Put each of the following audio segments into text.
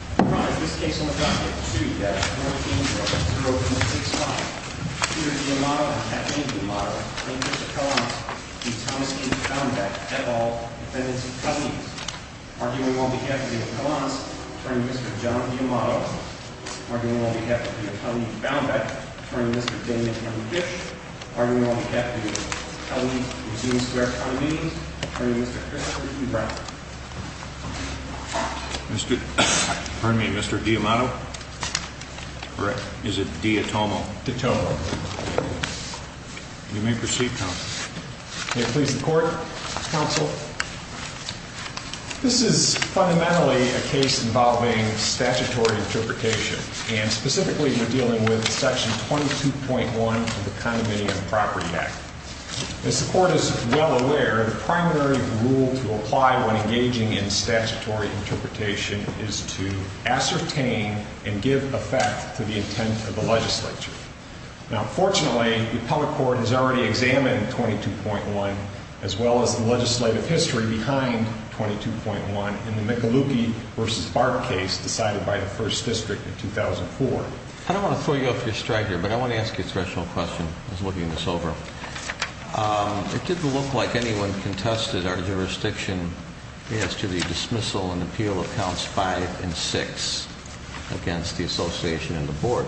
All right, this case on the docket, 2-14-0265, Peter D'Amato and Kathleen D'Amato claim Mr. Collins to be Thomas J. Baumbach, et al., defendants of Cummings, arguing on behalf of David Collins, attorney Mr. John D'Amato, arguing on behalf of the attorney Baumbach, attorney Mr. Daniel M. Fish, arguing on behalf of the attorney Eugene Square Cummings, attorney Mr. Christopher E. Brown. Pardon me, Mr. D'Amato? Correct. Is it D-A-T-O-M-O? D'A-T-O-M-O. You may proceed, counsel. May it please the court, counsel. This is fundamentally a case involving statutory interpretation, and specifically we're dealing with section 22.1 of the Condominium Property Act. As the court is well aware, the primary rule to apply when engaging in statutory interpretation is to ascertain and give effect to the intent of the legislature. Now, fortunately, the Appellate Court has already examined 22.1, as well as the legislative history behind 22.1, in the McAlukey v. Barth case decided by the First District in 2004. I don't want to throw you off your stride here, but I want to ask you a special question I was looking this over. It didn't look like anyone contested our jurisdiction as to the dismissal and appeal of counts 5 and 6 against the association and the board.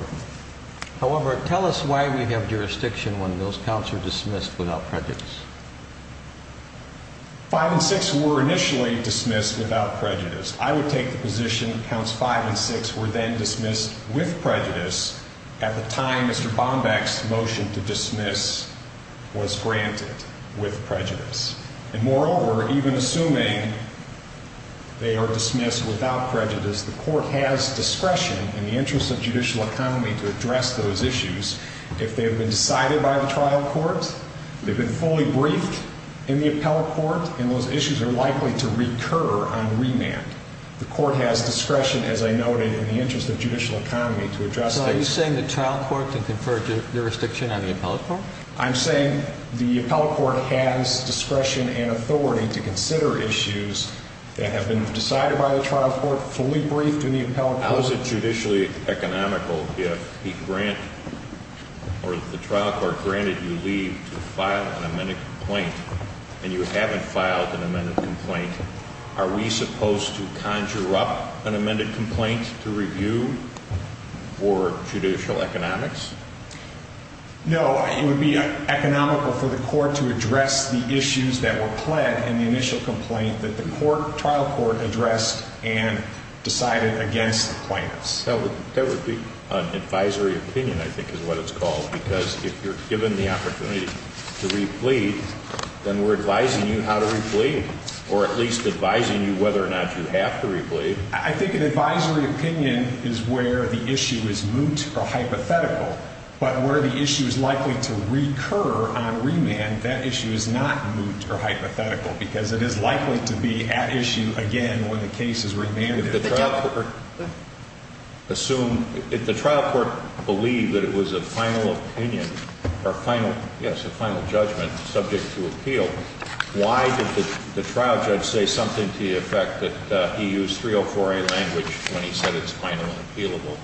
However, tell us why we have jurisdiction when those counts are dismissed without prejudice. 5 and 6 were initially dismissed without prejudice. I would take the position that counts 5 and 6 were then dismissed with prejudice at the time Mr. Bombeck's motion to dismiss was granted with prejudice. And moreover, even assuming they are dismissed without prejudice, the court has discretion in the interest of judicial economy to address those issues. If they have been decided by the trial court, they've been fully briefed in the Appellate Court, and those issues are likely to recur on remand. The court has discretion, as I noted, in the interest of judicial economy to address those issues. Does the trial court then confer jurisdiction on the Appellate Court? I'm saying the Appellate Court has discretion and authority to consider issues that have been decided by the trial court, fully briefed in the Appellate Court. How is it judicially economical if the trial court granted you leave to file an amended complaint, and you haven't filed an amended complaint? Are we supposed to conjure up an amended complaint to review for judicial economics? No, it would be economical for the court to address the issues that were pled in the initial complaint that the trial court addressed and decided against the plaintiffs. That would be an advisory opinion, I think is what it's called, because if you're given the opportunity to replead, then we're advising you how to replead, or at least advising you whether or not you have to replead. I think an advisory opinion is where the issue is moot or hypothetical, but where the issue is likely to recur on remand, that issue is not moot or hypothetical, because it is likely to be at issue again when the case is remanded. If the trial court believed that it was a final judgment subject to appeal, why did the trial judge say something to the effect that he used 304A language when he said it was final and appealable?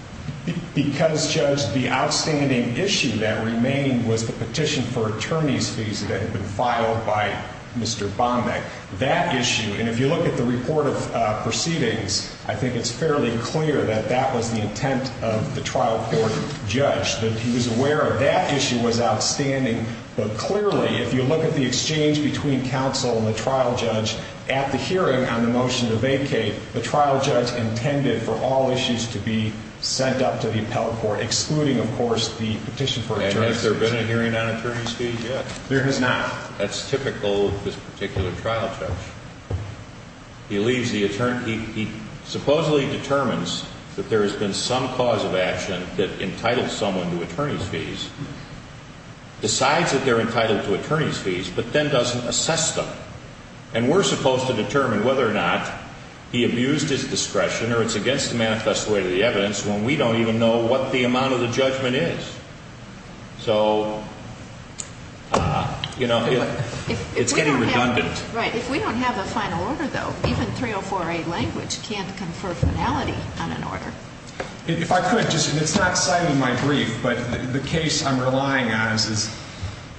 Because, Judge, the outstanding issue that remained was the petition for attorney's fees that had been filed by Mr. Bombeck. That issue, and if you look at the report of proceedings, I think it's fairly clear that that was the intent of the trial court judge, that he was aware of that issue was outstanding. But clearly, if you look at the exchange between counsel and the trial judge, at the hearing on the motion to vacate, the trial judge intended for all issues to be sent up to the appellate court, excluding, of course, the petition for attorney's fees. And has there been a hearing on attorney's fees yet? There has not. That's typical of this particular trial judge. He leaves the attorney. He supposedly determines that there has been some cause of action that entitled someone to attorney's fees, decides that they're entitled to attorney's fees, but then doesn't assess them. And we're supposed to determine whether or not he abused his discretion or it's against the manifest way of the evidence when we don't even know what the amount of the judgment is. So, you know, it's getting redundant. Right. If we don't have the final order, though, even 3048 language can't confer finality on an order. If I could, just, it's not citing my brief, but the case I'm relying on is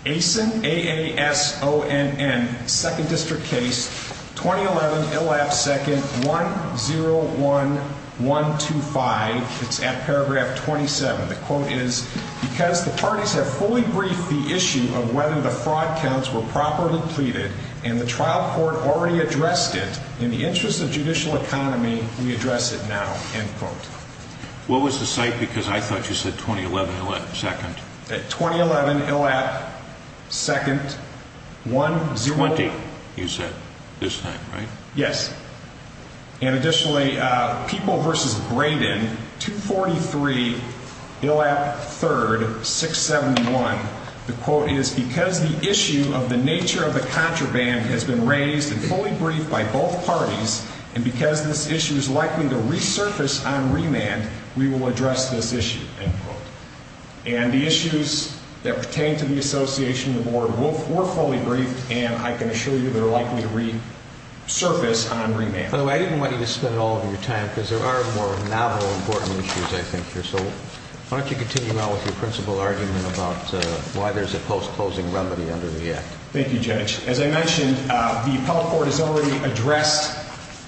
AASON, A-A-S-O-N-N, second district case, 2011, ILAP second, 101125. It's at paragraph 27. The quote is, because the parties have fully briefed the issue of whether the fraud counts were properly pleaded and the trial court already addressed it in the interest of judicial economy, we address it now. End quote. What was the site? Because I thought you said 2011, ILAP second. 2011, ILAP second, 1-0-1. 20, you said this time, right? Yes. And additionally, People v. Braden, 243, ILAP third, 671. The quote is, because the issue of the nature of the contraband has been raised and fully briefed by both parties, and because this issue is likely to resurface on remand, we will address this issue. End quote. And the issues that pertain to the association of the board were fully briefed, and I can surface on remand. By the way, I didn't want you to spend all of your time, because there are more novel important issues I think here. So why don't you continue on with your principal argument about why there's a post-closing remedy under the Act. Thank you, Judge. As I mentioned, the appellate court has already addressed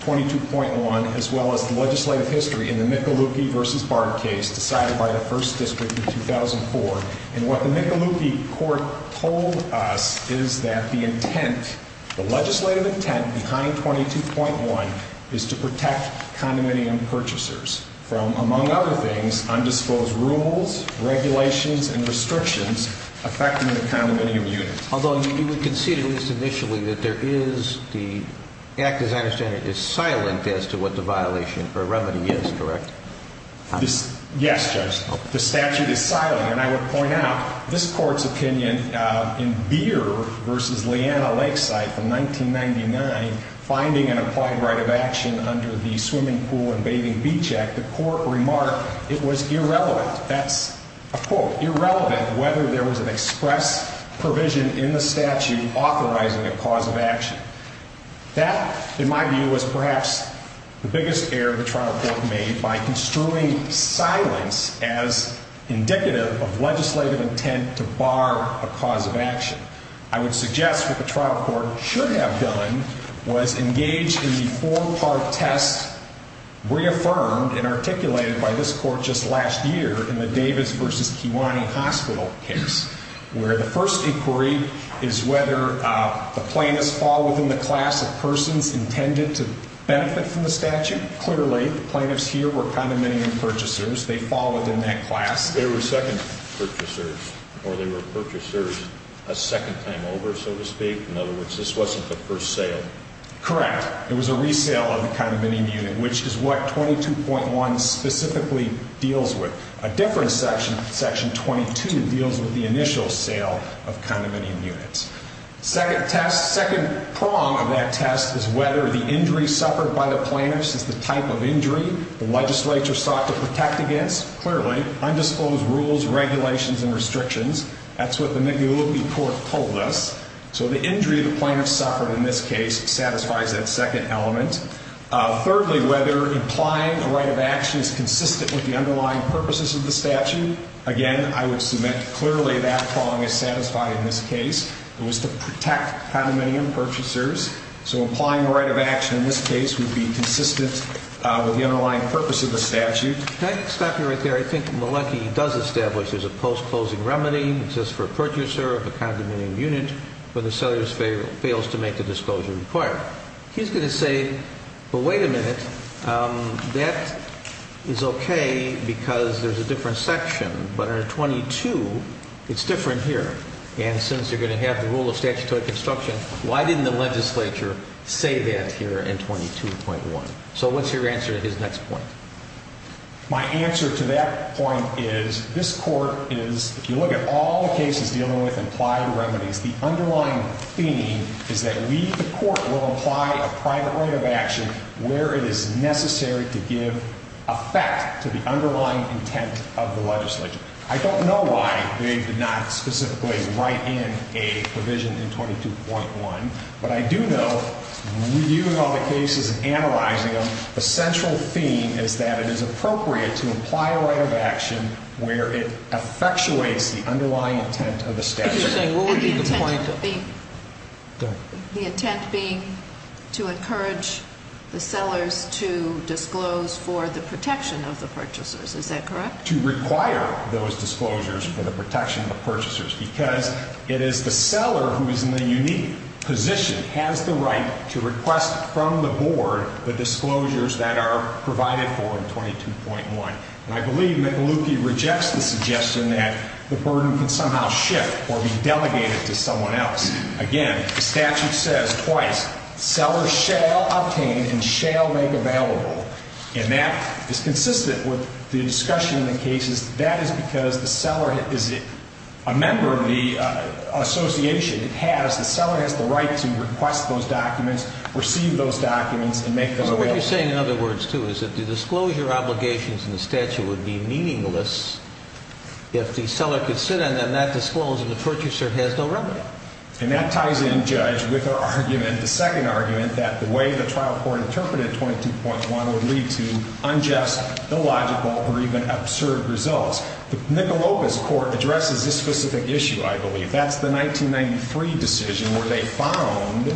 22.1, as well as the legislative history in the McAloope v. Bard case decided by the first district in 2004. And what the McAloope court told us is that the intent, the legislative intent behind 22.1 is to protect condominium purchasers from, among other things, undisposed rules, regulations, and restrictions affecting the condominium unit. Although you would concede, at least initially, that there is the Act, as I understand it, is silent as to what the violation or remedy is, correct? Yes, Judge. The statute is silent. And I would point out, this court's opinion in Beer v. Leanna Lakeside from 1999, finding an applied right of action under the Swimming Pool and Bathing Beach Act, the court remarked it was irrelevant. That's a quote, irrelevant whether there was an express provision in the statute authorizing a cause of action. That, in my view, was perhaps the biggest error the trial court made by construing silence as indicative of legislative intent to bar a cause of action. I would suggest what the trial court should have done was engage in the four-part test reaffirmed and articulated by this court just last year in the Davis v. Kiwane Hospital case, where the first inquiry is whether the plaintiffs fall within the class of persons intended to benefit from the statute. Clearly, the plaintiffs here were condominium purchasers. They fall within that class. They were second purchasers, or they were purchasers a second time over, so to speak. In other words, this wasn't the first sale. Correct. It was a resale of the condominium unit, which is what 22.1 specifically deals with. A different section, section 22, deals with the initial sale of condominium units. Second test, second prong of that test is whether the injury suffered by the plaintiffs is the type of injury the legislature sought to protect against. Clearly. Undisclosed rules, regulations, and restrictions. That's what the Mignoletti court told us. So the injury the plaintiffs suffered in this case satisfies that second element. Thirdly, whether implying a right of action is consistent with the underlying purposes of the statute. Again, I would submit clearly that prong is satisfied in this case. It was to protect condominium purchasers. So implying a right of action in this case would be consistent with the underlying purpose of the statute. Can I stop you right there? I think Mignoletti does establish there's a post-closing remedy. It says for a purchaser of a condominium unit, whether the seller fails to make the disclosure required. He's going to say, well, wait a minute. That is okay because there's a different section. But under 22, it's different here. And since you're going to have the rule of statutory construction, why didn't the legislature say that here in 22.1? So what's your answer to his next point? My answer to that point is this court is, if you look at all the cases dealing with implied remedies, the underlying theme is that we, the court, will apply a private right of action where it is necessary to give effect to the underlying intent of the legislature. I don't know why they did not specifically write in a provision in 22.1, but I do know, reviewing all the cases and analyzing them, the central theme is that it is appropriate to apply a right of action where it effectuates the underlying intent of the statute. What would be the point? The intent being to encourage the sellers to disclose for the protection of the purchasers. Is that correct? To require those disclosures for the protection of the purchasers because it is the seller who is in the unique position, has the right to request from the board the disclosures that are provided for in 22.1. And I believe McAlookie rejects the suggestion that the burden can somehow shift or be delegated to someone else. Again, the statute says twice, sellers shall obtain and shall make available. And that is consistent with the discussion in the cases. That is because the seller is a member of the association. The seller has the right to request those documents, receive those documents, and make them available. So what you're saying, in other words, too, is that the disclosure obligations in the statute would be meaningless if the seller could sit on them, not disclose, and the purchaser has no remedy. And that ties in, Judge, with our argument, the second argument, that the way the trial court interpreted 22.1 would lead to unjust, illogical, or even absurd results. McAloopie's court addresses this specific issue, I believe. That's the 1993 decision where they found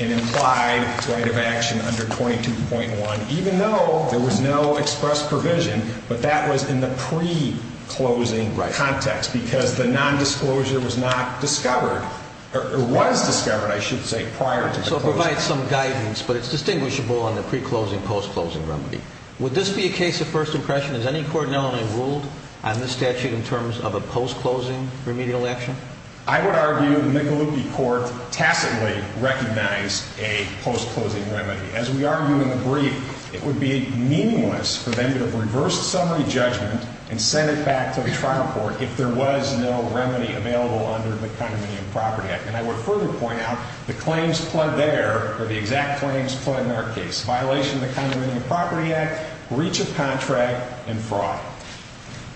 and implied right of action under 22.1, even though there was no express provision, but that was in the pre-closing context because the nondisclosure was not discovered, or was discovered, I should say, prior to the closing. So it provides some guidance, but it's distinguishable on the pre-closing, post-closing remedy. Would this be a case of first impression? Has any court in Illinois ruled on this statute in terms of a post-closing remedial action? I would argue the McAloopie court tacitly recognized a post-closing remedy. As we argue in the brief, it would be meaningless for them to have reversed summary judgment and sent it back to the trial court if there was no remedy available under the Condominium Property Act. And I would further point out the claims pled there, or the exact claims pled in our case, violation of the Condominium Property Act, breach of contract, and fraud.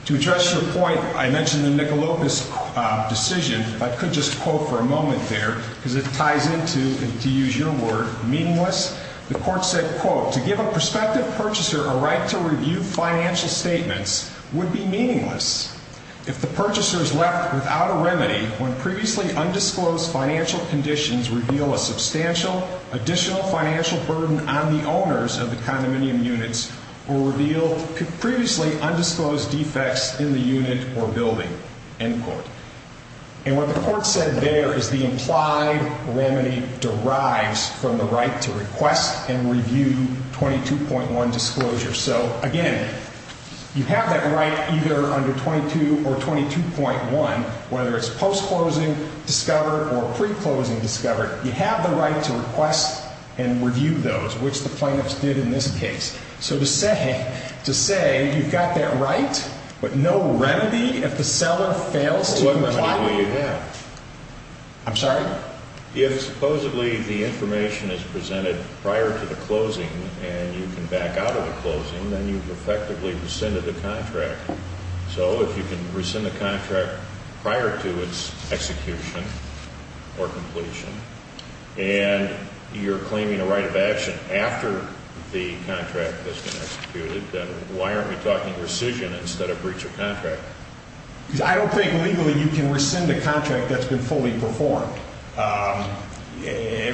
To address your point, I mentioned the McAloopie decision. If I could just quote for a moment there, because it ties into, to use your word, meaningless. The court said, quote, to give a prospective purchaser a right to review financial statements would be meaningless. If the purchaser is left without a remedy when previously undisclosed financial conditions reveal a substantial additional financial burden on the owners of the condominium units or reveal previously undisclosed defects in the unit or building, end quote. And what the court said there is the implied remedy derives from the right to request and review 22.1 disclosure. So, again, you have that right either under 22 or 22.1, whether it's post-closing, discovered, or pre-closing, discovered. You have the right to request and review those, which the plaintiffs did in this case. So to say, to say you've got that right, but no remedy if the seller fails to comply? What remedy would you have? I'm sorry? If supposedly the information is presented prior to the closing and you can back out of the closing, then you've effectively rescinded the contract. So if you can rescind the contract prior to its execution or completion and you're claiming a right of action after the contract has been executed, then why aren't we talking rescission instead of breach of contract? Because I don't think legally you can rescind a contract that's been fully performed.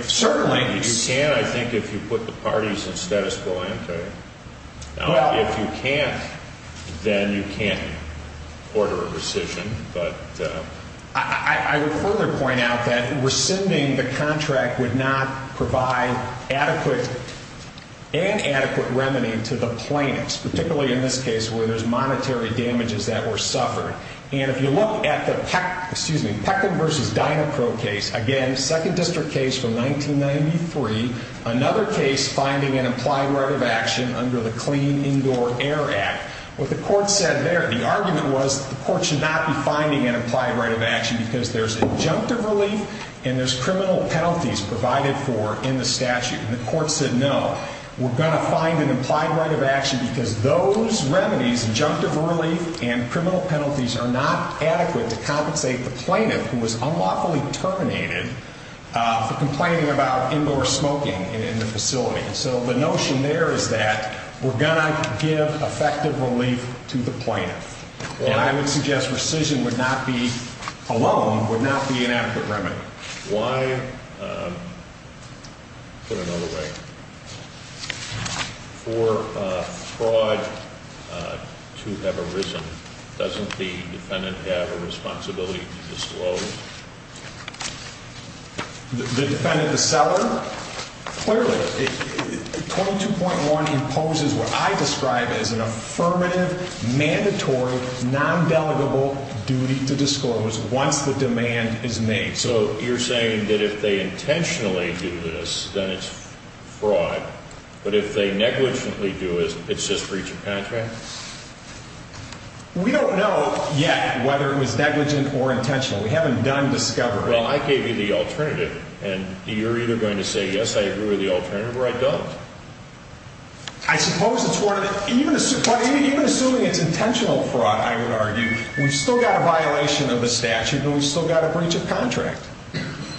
Certainly. You can, I think, if you put the parties in status quo ante. If you can't, then you can't order a rescission. I would further point out that rescinding the contract would not provide adequate and adequate remedy to the plaintiffs, particularly in this case where there's monetary damages that were suffered. And if you look at the Peckland v. Dynacro case, again, second district case from 1993, another case finding an implied right of action under the Clean Indoor Air Act, what the court said there, the argument was the court should not be finding an implied right of action because there's injunctive relief and there's criminal penalties provided for in the statute. And the court said, no, we're going to find an implied right of action because those remedies, injunctive relief and criminal penalties, are not adequate to compensate the plaintiff who was unlawfully terminated for complaining about indoor smoking in the facility. And so the notion there is that we're going to give effective relief to the plaintiff. And I would suggest rescission would not be, alone, would not be an adequate remedy. Why, put another way, for fraud to have arisen, doesn't the defendant have a responsibility to disclose? The defendant, the seller? Clearly, 22.1 imposes what I describe as an affirmative, mandatory, non-delegable duty to disclose once the demand is made. So you're saying that if they intentionally do this, then it's fraud. But if they negligently do it, it's just breach of contract? We don't know yet whether it was negligent or intentional. We haven't done discovery. Well, I gave you the alternative, and you're either going to say yes, I agree with the alternative, or I don't. I suppose it's one of the – even assuming it's intentional fraud, I would argue, we've still got a violation of the statute, but we've still got a breach of contract.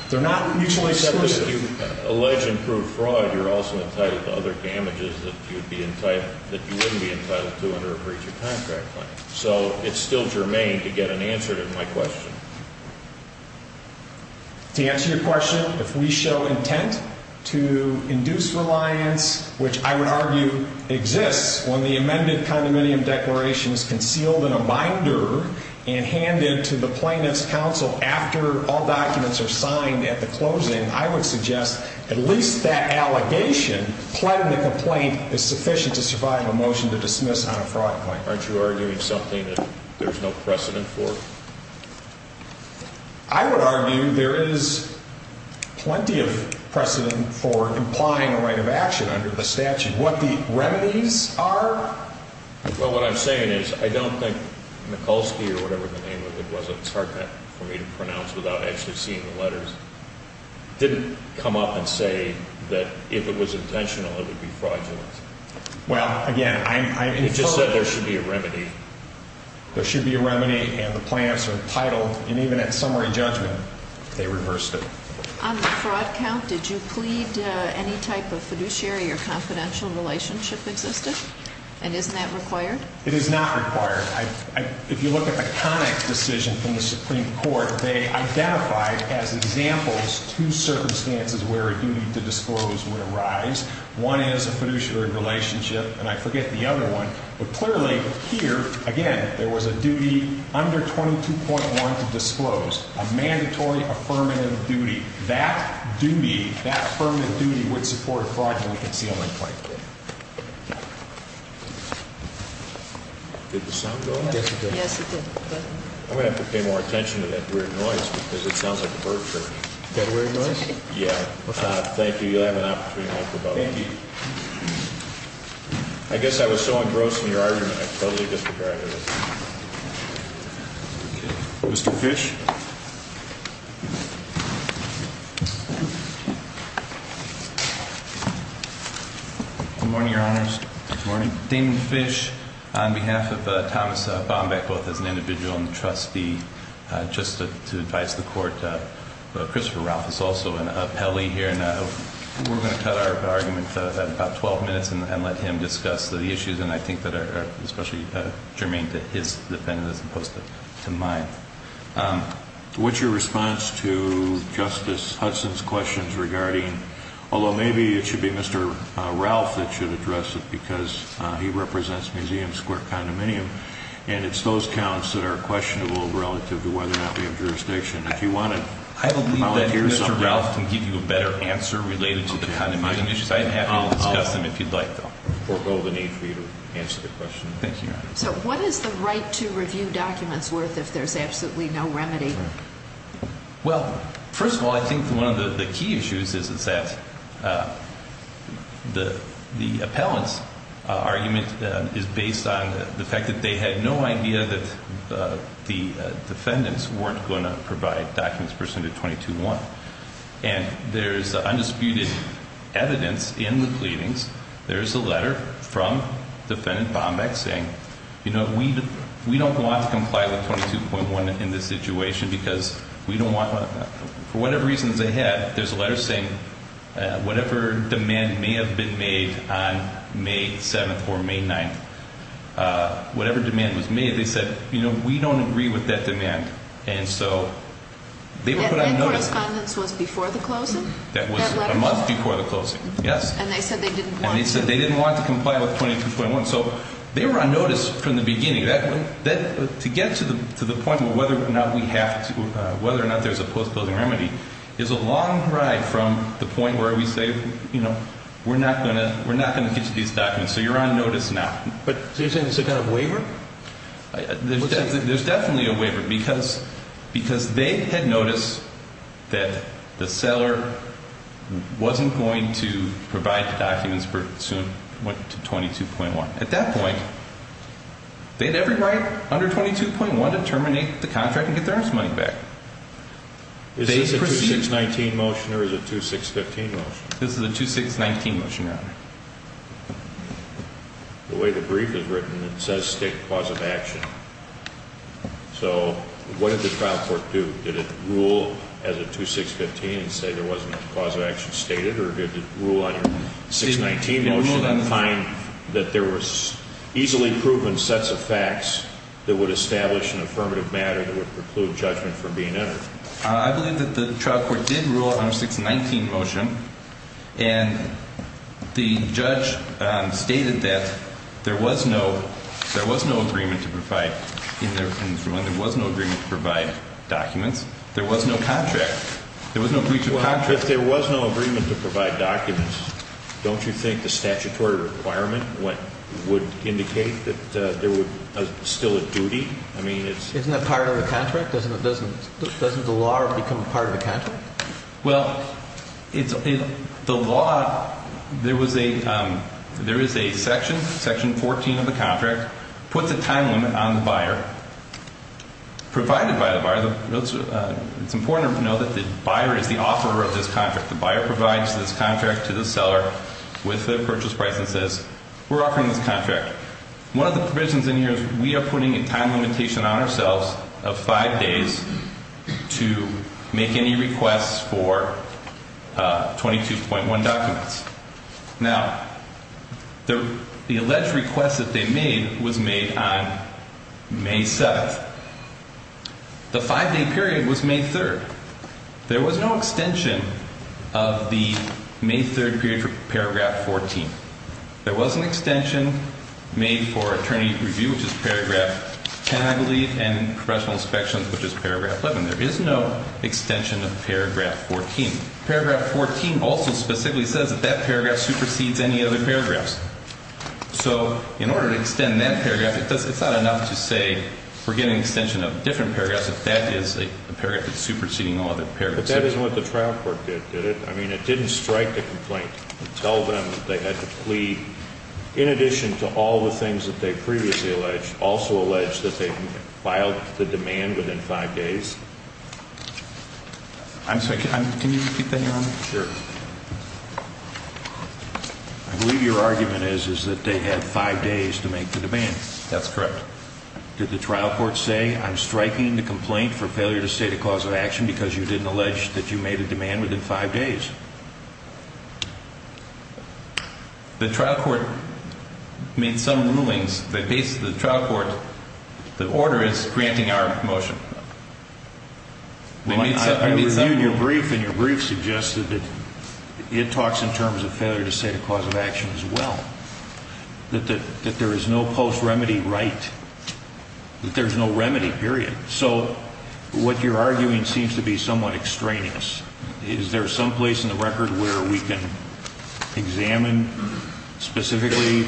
They're not mutually exclusive. Except if you allege and prove fraud, you're also entitled to other damages that you'd be entitled – that you wouldn't be entitled to under a breach of contract claim. So it's still germane to get an answer to my question. To answer your question, if we show intent to induce reliance, which I would argue exists, when the amended condominium declaration is concealed in a binder and handed to the plaintiff's counsel after all documents are signed at the closing, I would suggest at least that allegation, pledging a complaint, is sufficient to survive a motion to dismiss on a fraud claim. Aren't you arguing something that there's no precedent for? I would argue there is plenty of precedent for implying a right of action under the statute. What the remedies are – Well, what I'm saying is I don't think Mikulski or whatever the name of it was – it's hard for me to pronounce without actually seeing the letters – didn't come up and say that if it was intentional, it would be fraudulent. Well, again, I'm – You just said there should be a remedy. There should be a remedy, and the plaintiffs are entitled, and even at summary judgment, they reversed it. On the fraud count, did you plead any type of fiduciary or confidential relationship existed? And isn't that required? It is not required. If you look at the Connick decision from the Supreme Court, one is a fiduciary relationship, and I forget the other one. But clearly, here, again, there was a duty under 22.1 to disclose, a mandatory affirmative duty. That duty, that affirmative duty would support a fraudulent concealment claim. Did the sound go on? Yes, it did. I'm going to have to pay more attention to that weird noise because it sounds like a bird chirping. Is that a weird noise? Yeah. Thank you. I guess I was so engrossed in your argument, I totally disregarded it. Okay. Mr. Fish? Good morning, Your Honors. Good morning. Damon Fish, on behalf of Thomas Bombeck, both as an individual and a trustee, just to advise the Court, Christopher Ralph is also an appellee here, and we're going to cut our argument at about 12 minutes and let him discuss the issues, and I think that are especially germane to his defendant as opposed to mine. What's your response to Justice Hudson's questions regarding, although maybe it should be Mr. Ralph that should address it because he represents Museum Square Condominium, and it's those counts that are questionable relative to whether or not we have jurisdiction. I believe that Mr. Ralph can give you a better answer related to the condominium issues. I'd be happy to discuss them if you'd like, though. I forgo the need for you to answer the question. Thank you, Your Honors. So what is the right to review documents worth if there's absolutely no remedy? Well, first of all, I think one of the key issues is that the appellant's argument is based on the fact that they had no idea that the defendants weren't going to provide documents pursuant to 22.1. And there's undisputed evidence in the pleadings. There's a letter from Defendant Bombeck saying, you know, we don't want to comply with 22.1 in this situation because we don't want to. For whatever reasons they had, there's a letter saying whatever demand may have been made on May 7th or May 9th, whatever demand was made, they said, you know, we don't agree with that demand. And so they were put on notice. And that correspondence was before the closing? That was a month before the closing, yes. And they said they didn't want to? And they said they didn't want to comply with 22.1. So they were on notice from the beginning. To get to the point of whether or not we have to, whether or not there's a post-closing remedy, is a long ride from the point where we say, you know, we're not going to get you these documents. So you're on notice now. But are you saying it's a kind of waiver? There's definitely a waiver because they had noticed that the seller wasn't going to provide the documents for what went to 22.1. At that point, they had every right under 22.1 to terminate the contract and get their money back. Is this a 2619 motion or is it a 2615 motion? This is a 2619 motion, Your Honor. The way the brief is written, it says state cause of action. So what did the trial court do? Did it rule as a 2615 and say there wasn't a cause of action stated? Or did it rule on your 619 motion and find that there was easily proven sets of facts that would establish an affirmative matter that would preclude judgment from being entered? I believe that the trial court did rule on a 619 motion. And the judge stated that there was no agreement to provide documents. There was no contract. There was no breach of contract. Well, if there was no agreement to provide documents, don't you think the statutory requirement would indicate that there was still a duty? Isn't that part of the contract? Doesn't the law become part of the contract? Well, the law, there is a section, section 14 of the contract, puts a time limit on the buyer. Provided by the buyer, it's important to know that the buyer is the offeror of this contract. The buyer provides this contract to the seller with the purchase price and says, we're offering this contract. One of the provisions in here is we are putting a time limitation on ourselves of five days to make any requests for 22.1 documents. Now, the alleged request that they made was made on May 7th. The five-day period was May 3rd. There was no extension of the May 3rd period for paragraph 14. There was an extension made for attorney review, which is paragraph 10, I believe, and professional inspections, which is paragraph 11. There is no extension of paragraph 14. Paragraph 14 also specifically says that that paragraph supersedes any other paragraphs. So in order to extend that paragraph, it's not enough to say we're getting an extension of different paragraphs if that is a paragraph that's superseding all other paragraphs. But that isn't what the trial court did, did it? I mean, it didn't strike the complaint and tell them that they had to plead, in addition to all the things that they previously alleged, also alleged that they filed the demand within five days. I'm sorry, can you repeat that, Your Honor? Sure. I believe your argument is that they had five days to make the demand. That's correct. Did the trial court say, I'm striking the complaint for failure to state a cause of action because you didn't allege that you made a demand within five days? The trial court made some rulings. The trial court, the order is granting our motion. I reviewed your brief, and your brief suggested that it talks in terms of failure to state a cause of action as well, that there is no post-remedy right, that there's no remedy, period. So what you're arguing seems to be somewhat extraneous. Is there some place in the record where we can examine specifically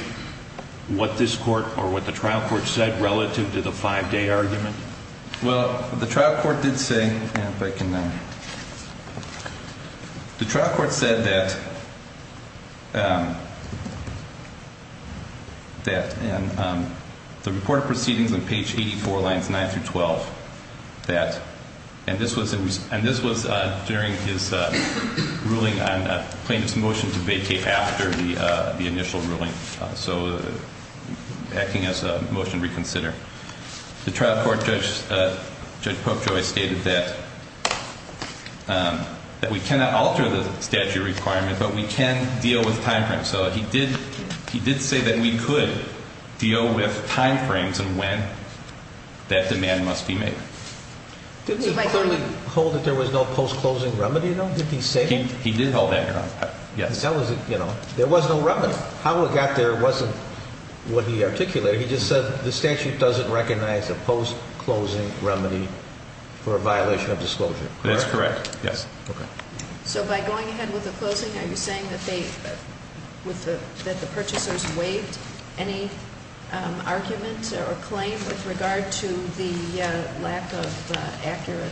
what this court or what the trial court said relative to the five-day argument? Well, the trial court did say, if I can, the trial court said that the report of proceedings on page 84, lines 9 through 12, and this was during his ruling on plaintiff's motion to vacate after the initial ruling, so acting as a motion to reconsider. The trial court, Judge Popejoy, stated that we cannot alter the statute requirement, but we can deal with timeframes. So he did say that we could deal with timeframes and when that demand must be made. Did he clearly hold that there was no post-closing remedy, though? Did he say that? He did hold that ground, yes. There was no remedy. How it got there wasn't what he articulated. He just said the statute doesn't recognize a post-closing remedy for a violation of disclosure. That's correct, yes. So by going ahead with the closing, are you saying that the purchasers waived any argument or claim with regard to the lack of accurate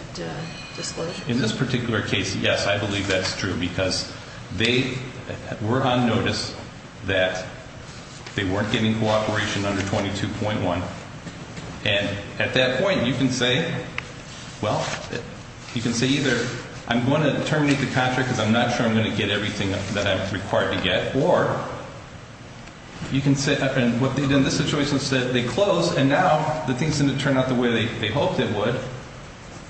disclosure? In this particular case, yes, I believe that's true because they were on notice that they weren't getting cooperation under 22.1, and at that point you can say, well, you can say either I'm going to terminate the contract because I'm not sure I'm going to get everything that I'm required to get, or you can say, in this situation, they closed and now the thing's going to turn out the way they hoped it would.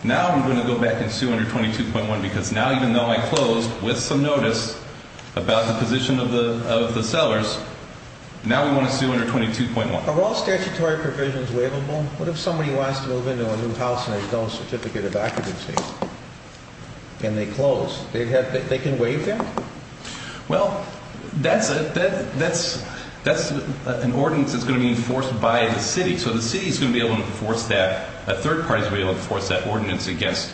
Now I'm going to go back and sue under 22.1 because now even though I closed with some notice about the position of the sellers, now we want to sue under 22.1. Are all statutory provisions waivable? What if somebody wants to move into a new house and there's no certificate of occupancy and they close? They can waive them? Well, that's an ordinance that's going to be enforced by the city, so the city is going to be able to enforce that. A third party is going to be able to enforce that ordinance against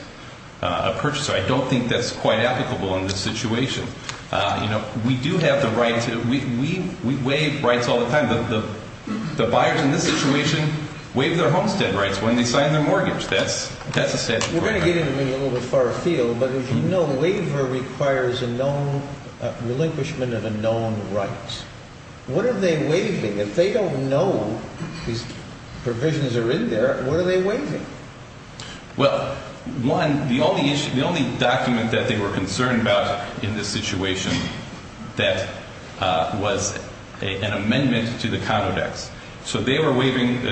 a purchaser. I don't think that's quite applicable in this situation. We do have the right to – we waive rights all the time. The buyers in this situation waive their homestead rights when they sign their mortgage. That's a statutory right. We're going to get into a little bit of a far field, but as you know, waiver requires a known – relinquishment of a known right. What are they waiving? If they don't know these provisions are in there, what are they waiving? Well, one, the only document that they were concerned about in this situation that was an amendment to the Condo Dex. So they were waiving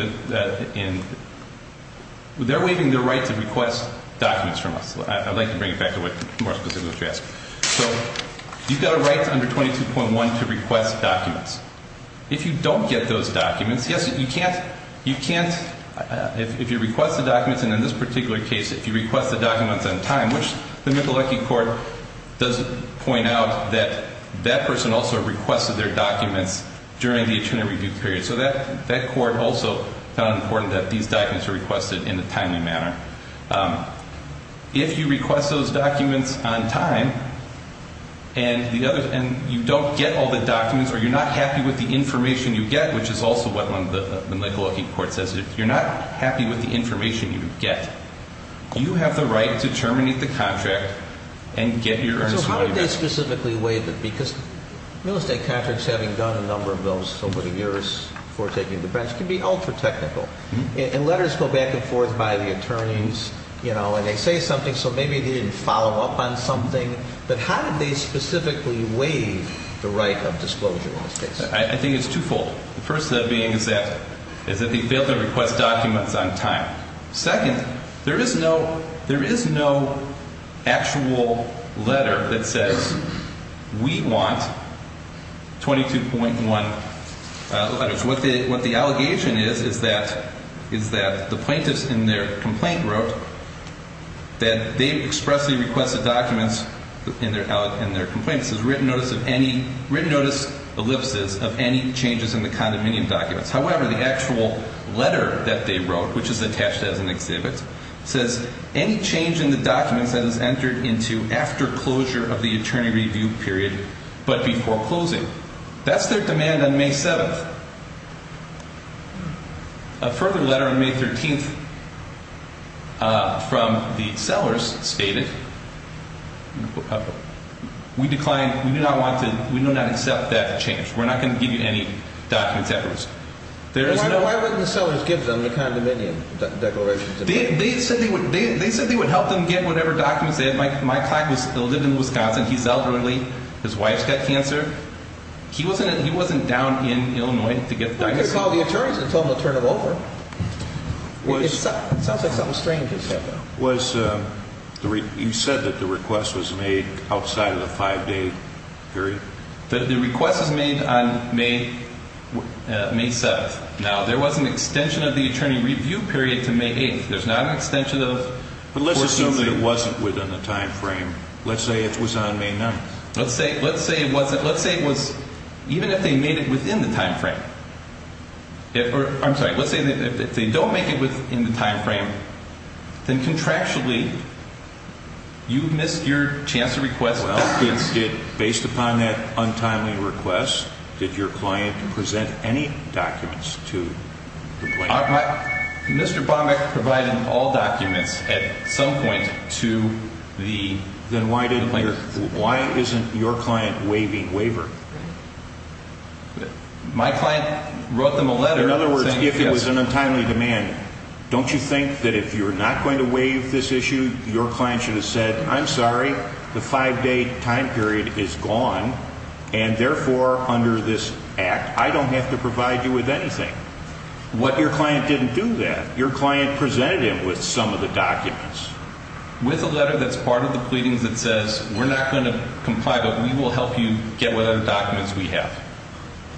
– they're waiving their right to request documents from us. I'd like to bring it back to more specifics if you ask. So you've got a right under 22.1 to request documents. If you don't get those documents, yes, you can't – you can't – if you request the documents, and in this particular case, if you request the documents on time, which the Michalecki Court does point out that that person also requested their documents during the attorney review period. So that court also found it important that these documents were requested in a timely manner. If you request those documents on time and you don't get all the documents or you're not happy with the information you get, which is also what the Michalecki Court says, if you're not happy with the information you get, you have the right to terminate the contract and get your earnest waiver. So how do they specifically waive it? Because real estate contracts, having done a number of those over the years before taking the bench, can be ultra-technical. And letters go back and forth by the attorneys, you know, and they say something, so maybe they didn't follow up on something. But how did they specifically waive the right of disclosure in this case? I think it's twofold. The first being is that – is that they failed to request documents on time. Second, there is no – there is no actual letter that says we want 22.1 letters. What the allegation is, is that – is that the plaintiffs in their complaint wrote that they expressly requested documents in their complaint. This is written notice of any – written notice ellipses of any changes in the condominium documents. However, the actual letter that they wrote, which is attached as an exhibit, says, any change in the documents that is entered into after closure of the attorney review period but before closing. That's their demand on May 7th. A further letter on May 13th from the sellers stated, we decline – we do not want to – we do not accept that change. We're not going to give you any documents at risk. There is no – Why wouldn't the sellers give them the condominium declarations? They said they would – they said they would help them get whatever documents they had. My client was – lived in Wisconsin. He's elderly. His wife's got cancer. He wasn't – he wasn't down in Illinois to get the diagnosis. You could have called the attorneys and told them to turn it over. It sounds like something strange. Was the – you said that the request was made outside of the five-day period? The request was made on May 7th. Now, there was an extension of the attorney review period to May 8th. There's not an extension of 14th. But let's assume that it wasn't within the time frame. Let's say it was on May 9th. Let's say it wasn't – let's say it was – even if they made it within the time frame – I'm sorry. Let's say that if they don't make it within the time frame, then contractually, you missed your chance to request documents. Well, based upon that untimely request, did your client present any documents to the plaintiff? Mr. Bombach provided all documents at some point to the plaintiff. Then why didn't your – why isn't your client waiving waiver? My client wrote them a letter saying – In other words, if it was an untimely demand, don't you think that if you're not going to waive this issue, your client should have said, I'm sorry, the five-day time period is gone, and therefore, under this act, I don't have to provide you with anything? What – your client didn't do that. Your client presented him with some of the documents. With a letter that's part of the pleadings that says, we're not going to comply, but we will help you get whatever documents we have.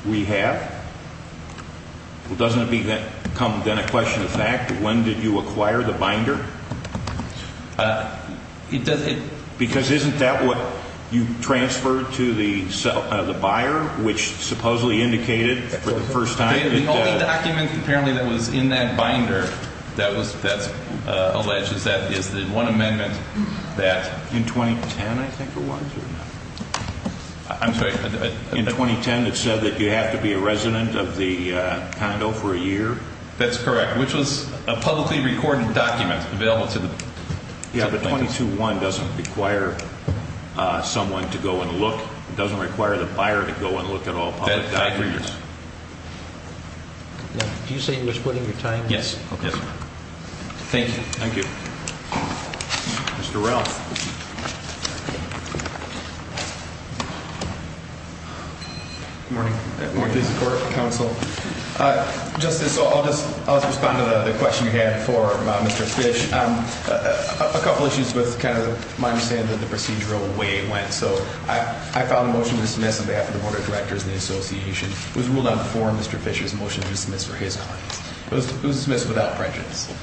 We have? Well, doesn't that become then a question of fact? When did you acquire the binder? It – Because isn't that what you transferred to the buyer, which supposedly indicated for the first time – The only document apparently that was in that binder that was – that's alleged is that – is the one amendment that – In 2010, I think it was, or no? I'm sorry. In 2010, it said that you have to be a resident of the condo for a year? That's correct, which was a publicly recorded document available to the plaintiff. Yeah, but 221 doesn't require someone to go and look. It doesn't require the buyer to go and look at all public documents. Do you say you're splitting your time? Yes. Okay. Thank you. Thank you. Mr. Ralph. Good morning. Good morning. Please support counsel. Justice, I'll just respond to the question you had for Mr. Fish. A couple issues with kind of my understanding of the procedural way it went. So I filed a motion to dismiss on behalf of the Board of Directors and the Association. It was ruled out before Mr. Fish's motion to dismiss for his claims. It was dismissed without prejudice.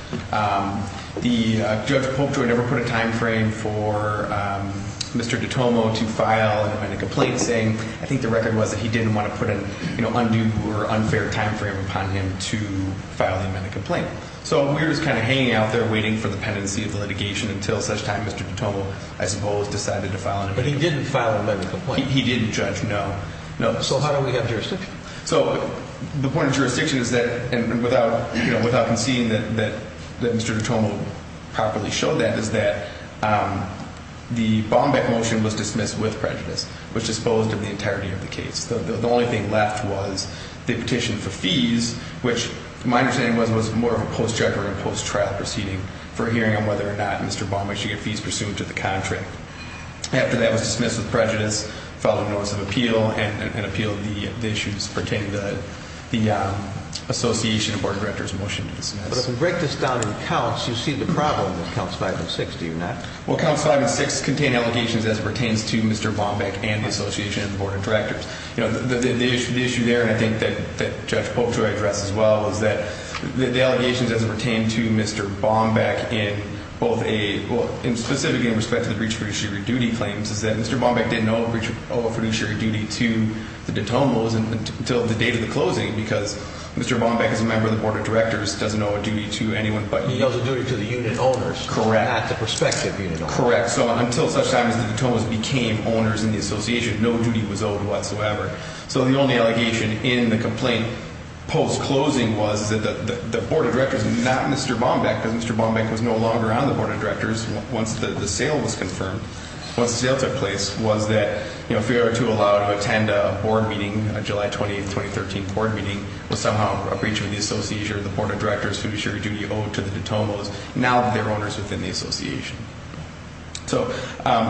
Judge Polkjoy never put a timeframe for Mr. Dutomo to file an amendment complaint saying – I think the record was that he didn't want to put an undue or unfair timeframe upon him to file the amendment complaint. So we were just kind of hanging out there waiting for the pendency of the litigation until such time Mr. Dutomo, I suppose, decided to file an amendment complaint. But he didn't file an amendment complaint. He didn't, Judge. No. No. So how do we have jurisdiction? So the point of jurisdiction is that – and without conceding that Mr. Dutomo properly showed that – is that the Baumeck motion was dismissed with prejudice. It was disposed of the entirety of the case. The only thing left was the petition for fees, which my understanding was was more of a post-judge or a post-trial proceeding for hearing on whether or not Mr. Baumeck should get fees pursuant to the contract. After that was dismissed with prejudice, filed a notice of appeal and appealed the issues pertaining to the Association Board of Directors motion to dismiss. But if we break this down in counts, you see the problem with counts 5 and 6, do you not? Well, counts 5 and 6 contain allegations as it pertains to Mr. Baumeck and the Association Board of Directors. You know, the issue there, and I think that Judge Polk should address as well, is that the allegations as it pertained to Mr. Baumeck in both a – well, specifically in respect to the breach of fiduciary duty claims is that Mr. Baumeck didn't owe a fiduciary duty to the Dutomos until the date of the closing because Mr. Baumeck, as a member of the Board of Directors, doesn't owe a duty to anyone but him. He owes a duty to the unit owners. Correct. Not the prospective unit owners. Correct. So until such time as the Dutomos became owners in the Association, no duty was owed whatsoever. So the only allegation in the complaint post-closing was that the Board of Directors, not Mr. Baumeck, because Mr. Baumeck was no longer on the Board of Directors once the sale was confirmed, once the sale took place, was that, you know, if we were to allow him to attend a board meeting, a July 20, 2013 board meeting, was somehow a breach of the Association Board of Directors fiduciary duty owed to the Dutomos now that they're owners within the Association. So,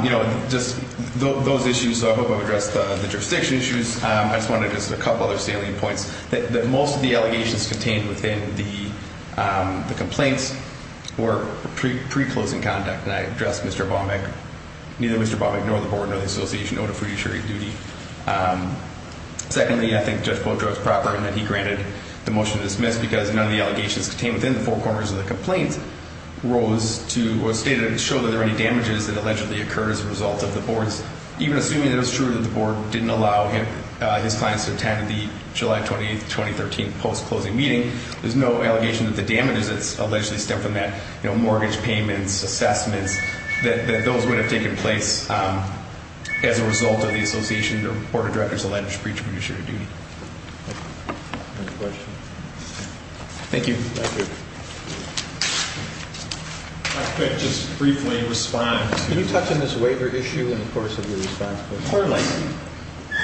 you know, just those issues, I hope I've addressed the jurisdiction issues. I just want to address a couple other salient points. That most of the allegations contained within the complaints were pre-closing conduct, and I addressed Mr. Baumeck. Neither Mr. Baumeck nor the Board nor the Association owed a fiduciary duty. Secondly, I think Judge Boudreaux is proper in that he granted the motion to dismiss because none of the allegations contained within the four corners of the complaint rose to or stated to show that there were any damages that allegedly occurred as a result of the Board's, even assuming that it was true that the Board didn't allow his clients to attend the July 20, 2013 post-closing meeting, there's no allegation that the damages that allegedly stem from that, you know, mortgage payments, assessments, that those would have taken place as a result of the Association Board of Directors' alleged breach of fiduciary duty. Any questions? Thank you. Thank you. If I could just briefly respond. Can you touch on this waiver issue in the course of your response, please? Clearly.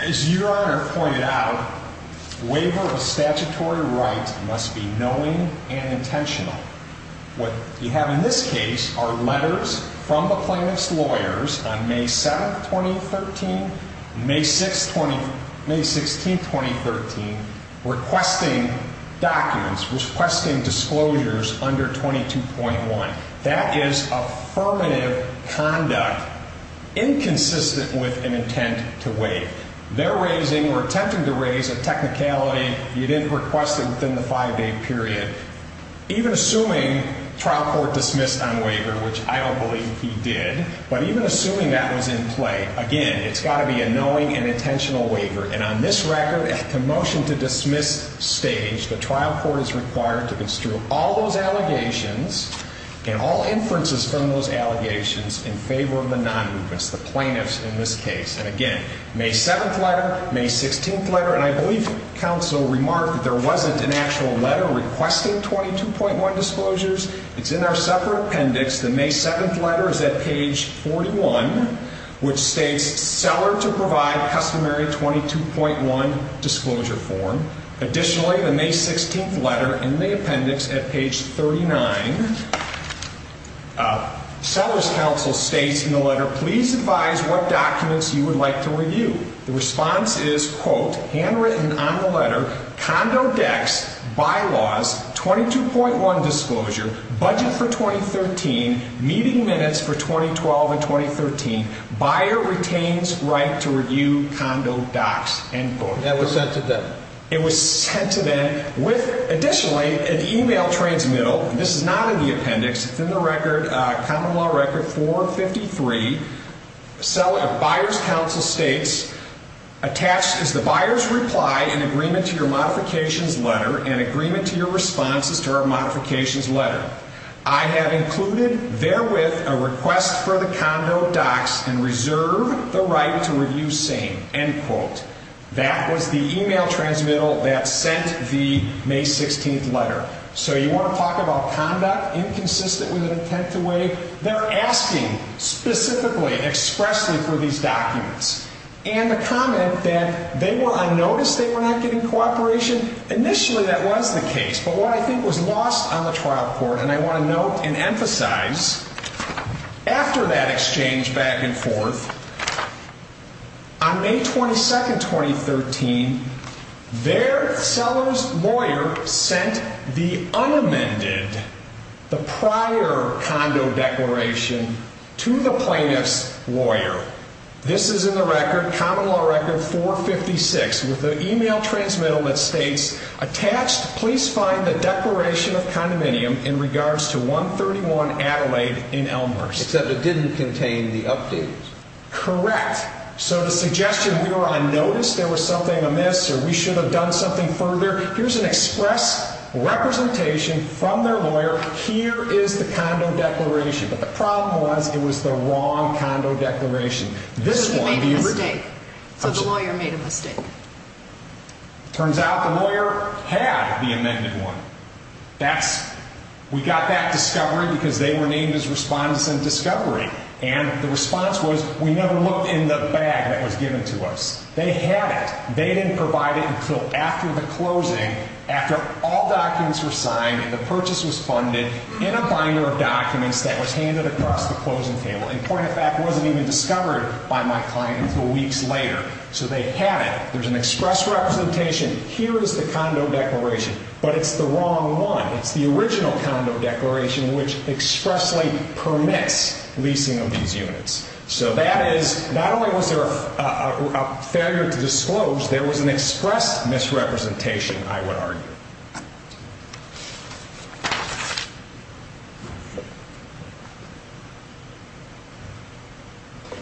As Your Honor pointed out, waiver of statutory right must be knowing and intentional. What you have in this case are letters from the plaintiff's lawyers on May 7, 2013, May 16, 2013, requesting documents, requesting disclosures under 22.1. That is affirmative conduct inconsistent with an intent to waive. They're raising or attempting to raise a technicality. You did request it within the five-day period. Even assuming trial court dismissed on waiver, which I don't believe he did, but even assuming that was in play, again, it's got to be a knowing and intentional waiver. And on this record, at the motion to dismiss stage, the trial court is required to construe all those allegations and all inferences from those allegations in favor of the non-movements, the plaintiffs in this case. And again, May 7th letter, May 16th letter. And I believe counsel remarked that there wasn't an actual letter requesting 22.1 disclosures. It's in our separate appendix. The May 7th letter is at page 41, which states seller to provide customary 22.1 disclosure form. Additionally, the May 16th letter in the appendix at page 39, seller's counsel states in the letter, please advise what documents you would like to review. The response is, quote, handwritten on the letter, condo decks, bylaws, 22.1 disclosure, budget for 2013, meeting minutes for 2012 and 2013, buyer retains right to review condo docks, end quote. That was sent to them. It was sent to them with, additionally, an email transmittal. And this is not in the appendix. It's in the record, common law record 453. Seller, buyer's counsel states, attached is the buyer's reply in agreement to your modifications letter and agreement to your responses to our modifications letter. I have included therewith a request for the condo docks and reserve the right to review same, end quote. That was the email transmittal that sent the May 16th letter. So you want to talk about conduct, inconsistent with an intent to waive, they're asking specifically, expressly for these documents. And the comment that they were unnoticed, they were not getting cooperation, initially that was the case. But what I think was lost on the trial court, and I want to note and emphasize, After that exchange back and forth, on May 22nd, 2013, their seller's lawyer sent the unamended, the prior condo declaration to the plaintiff's lawyer. This is in the record, common law record 456, with an email transmittal that states, Attached, please find the declaration of condominium in regards to 131 Adelaide in Elmhurst. Except it didn't contain the updates. Correct. So the suggestion we were unnoticed, there was something amiss, or we should have done something further, here's an express representation from their lawyer, here is the condo declaration. But the problem was, it was the wrong condo declaration. So the lawyer made a mistake. Turns out the lawyer had the amended one. We got that discovery because they were named as respondents in discovery. And the response was, we never looked in the bag that was given to us. They had it. They didn't provide it until after the closing, after all documents were signed and the purchase was funded, in a binder of documents that was handed across the closing table. And point of fact, it wasn't even discovered by my client until weeks later. So they had it. There's an express representation. Here is the condo declaration. But it's the wrong one. It's the original condo declaration, which expressly permits leasing of these units. So that is, not only was there a failure to disclose, there was an express misrepresentation, I would argue.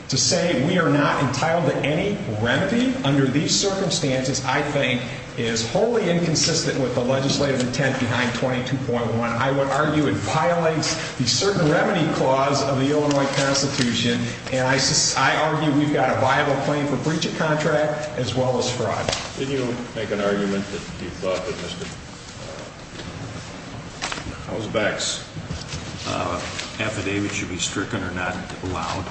To say we are not entitled to any remedy under these circumstances, I think, is wholly inconsistent with the legislative intent behind 22.1. I would argue it violates the certain remedy clause of the Illinois Constitution. And I argue we've got a viable claim for breach of contract as well as fraud. Didn't you make an argument that you thought it listed? How's Bex? Affidavit should be stricken or not allowed.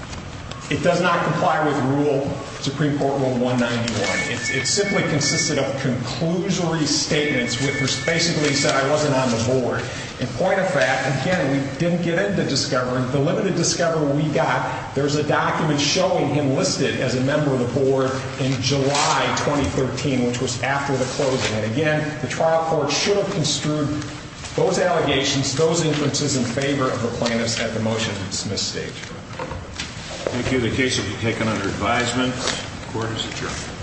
It does not comply with rule, Supreme Court Rule 191. It simply consisted of conclusory statements which basically said I wasn't on the board. And point of fact, again, we didn't get into discovering. The limited discovery we got, there's a document showing him listed as a member of the board in July 2013, which was after the closing. And again, the trial court should have construed those allegations, those inferences in favor of the plaintiffs at the motion to dismiss stage. Thank you. The case will be taken under advisement. Court is adjourned.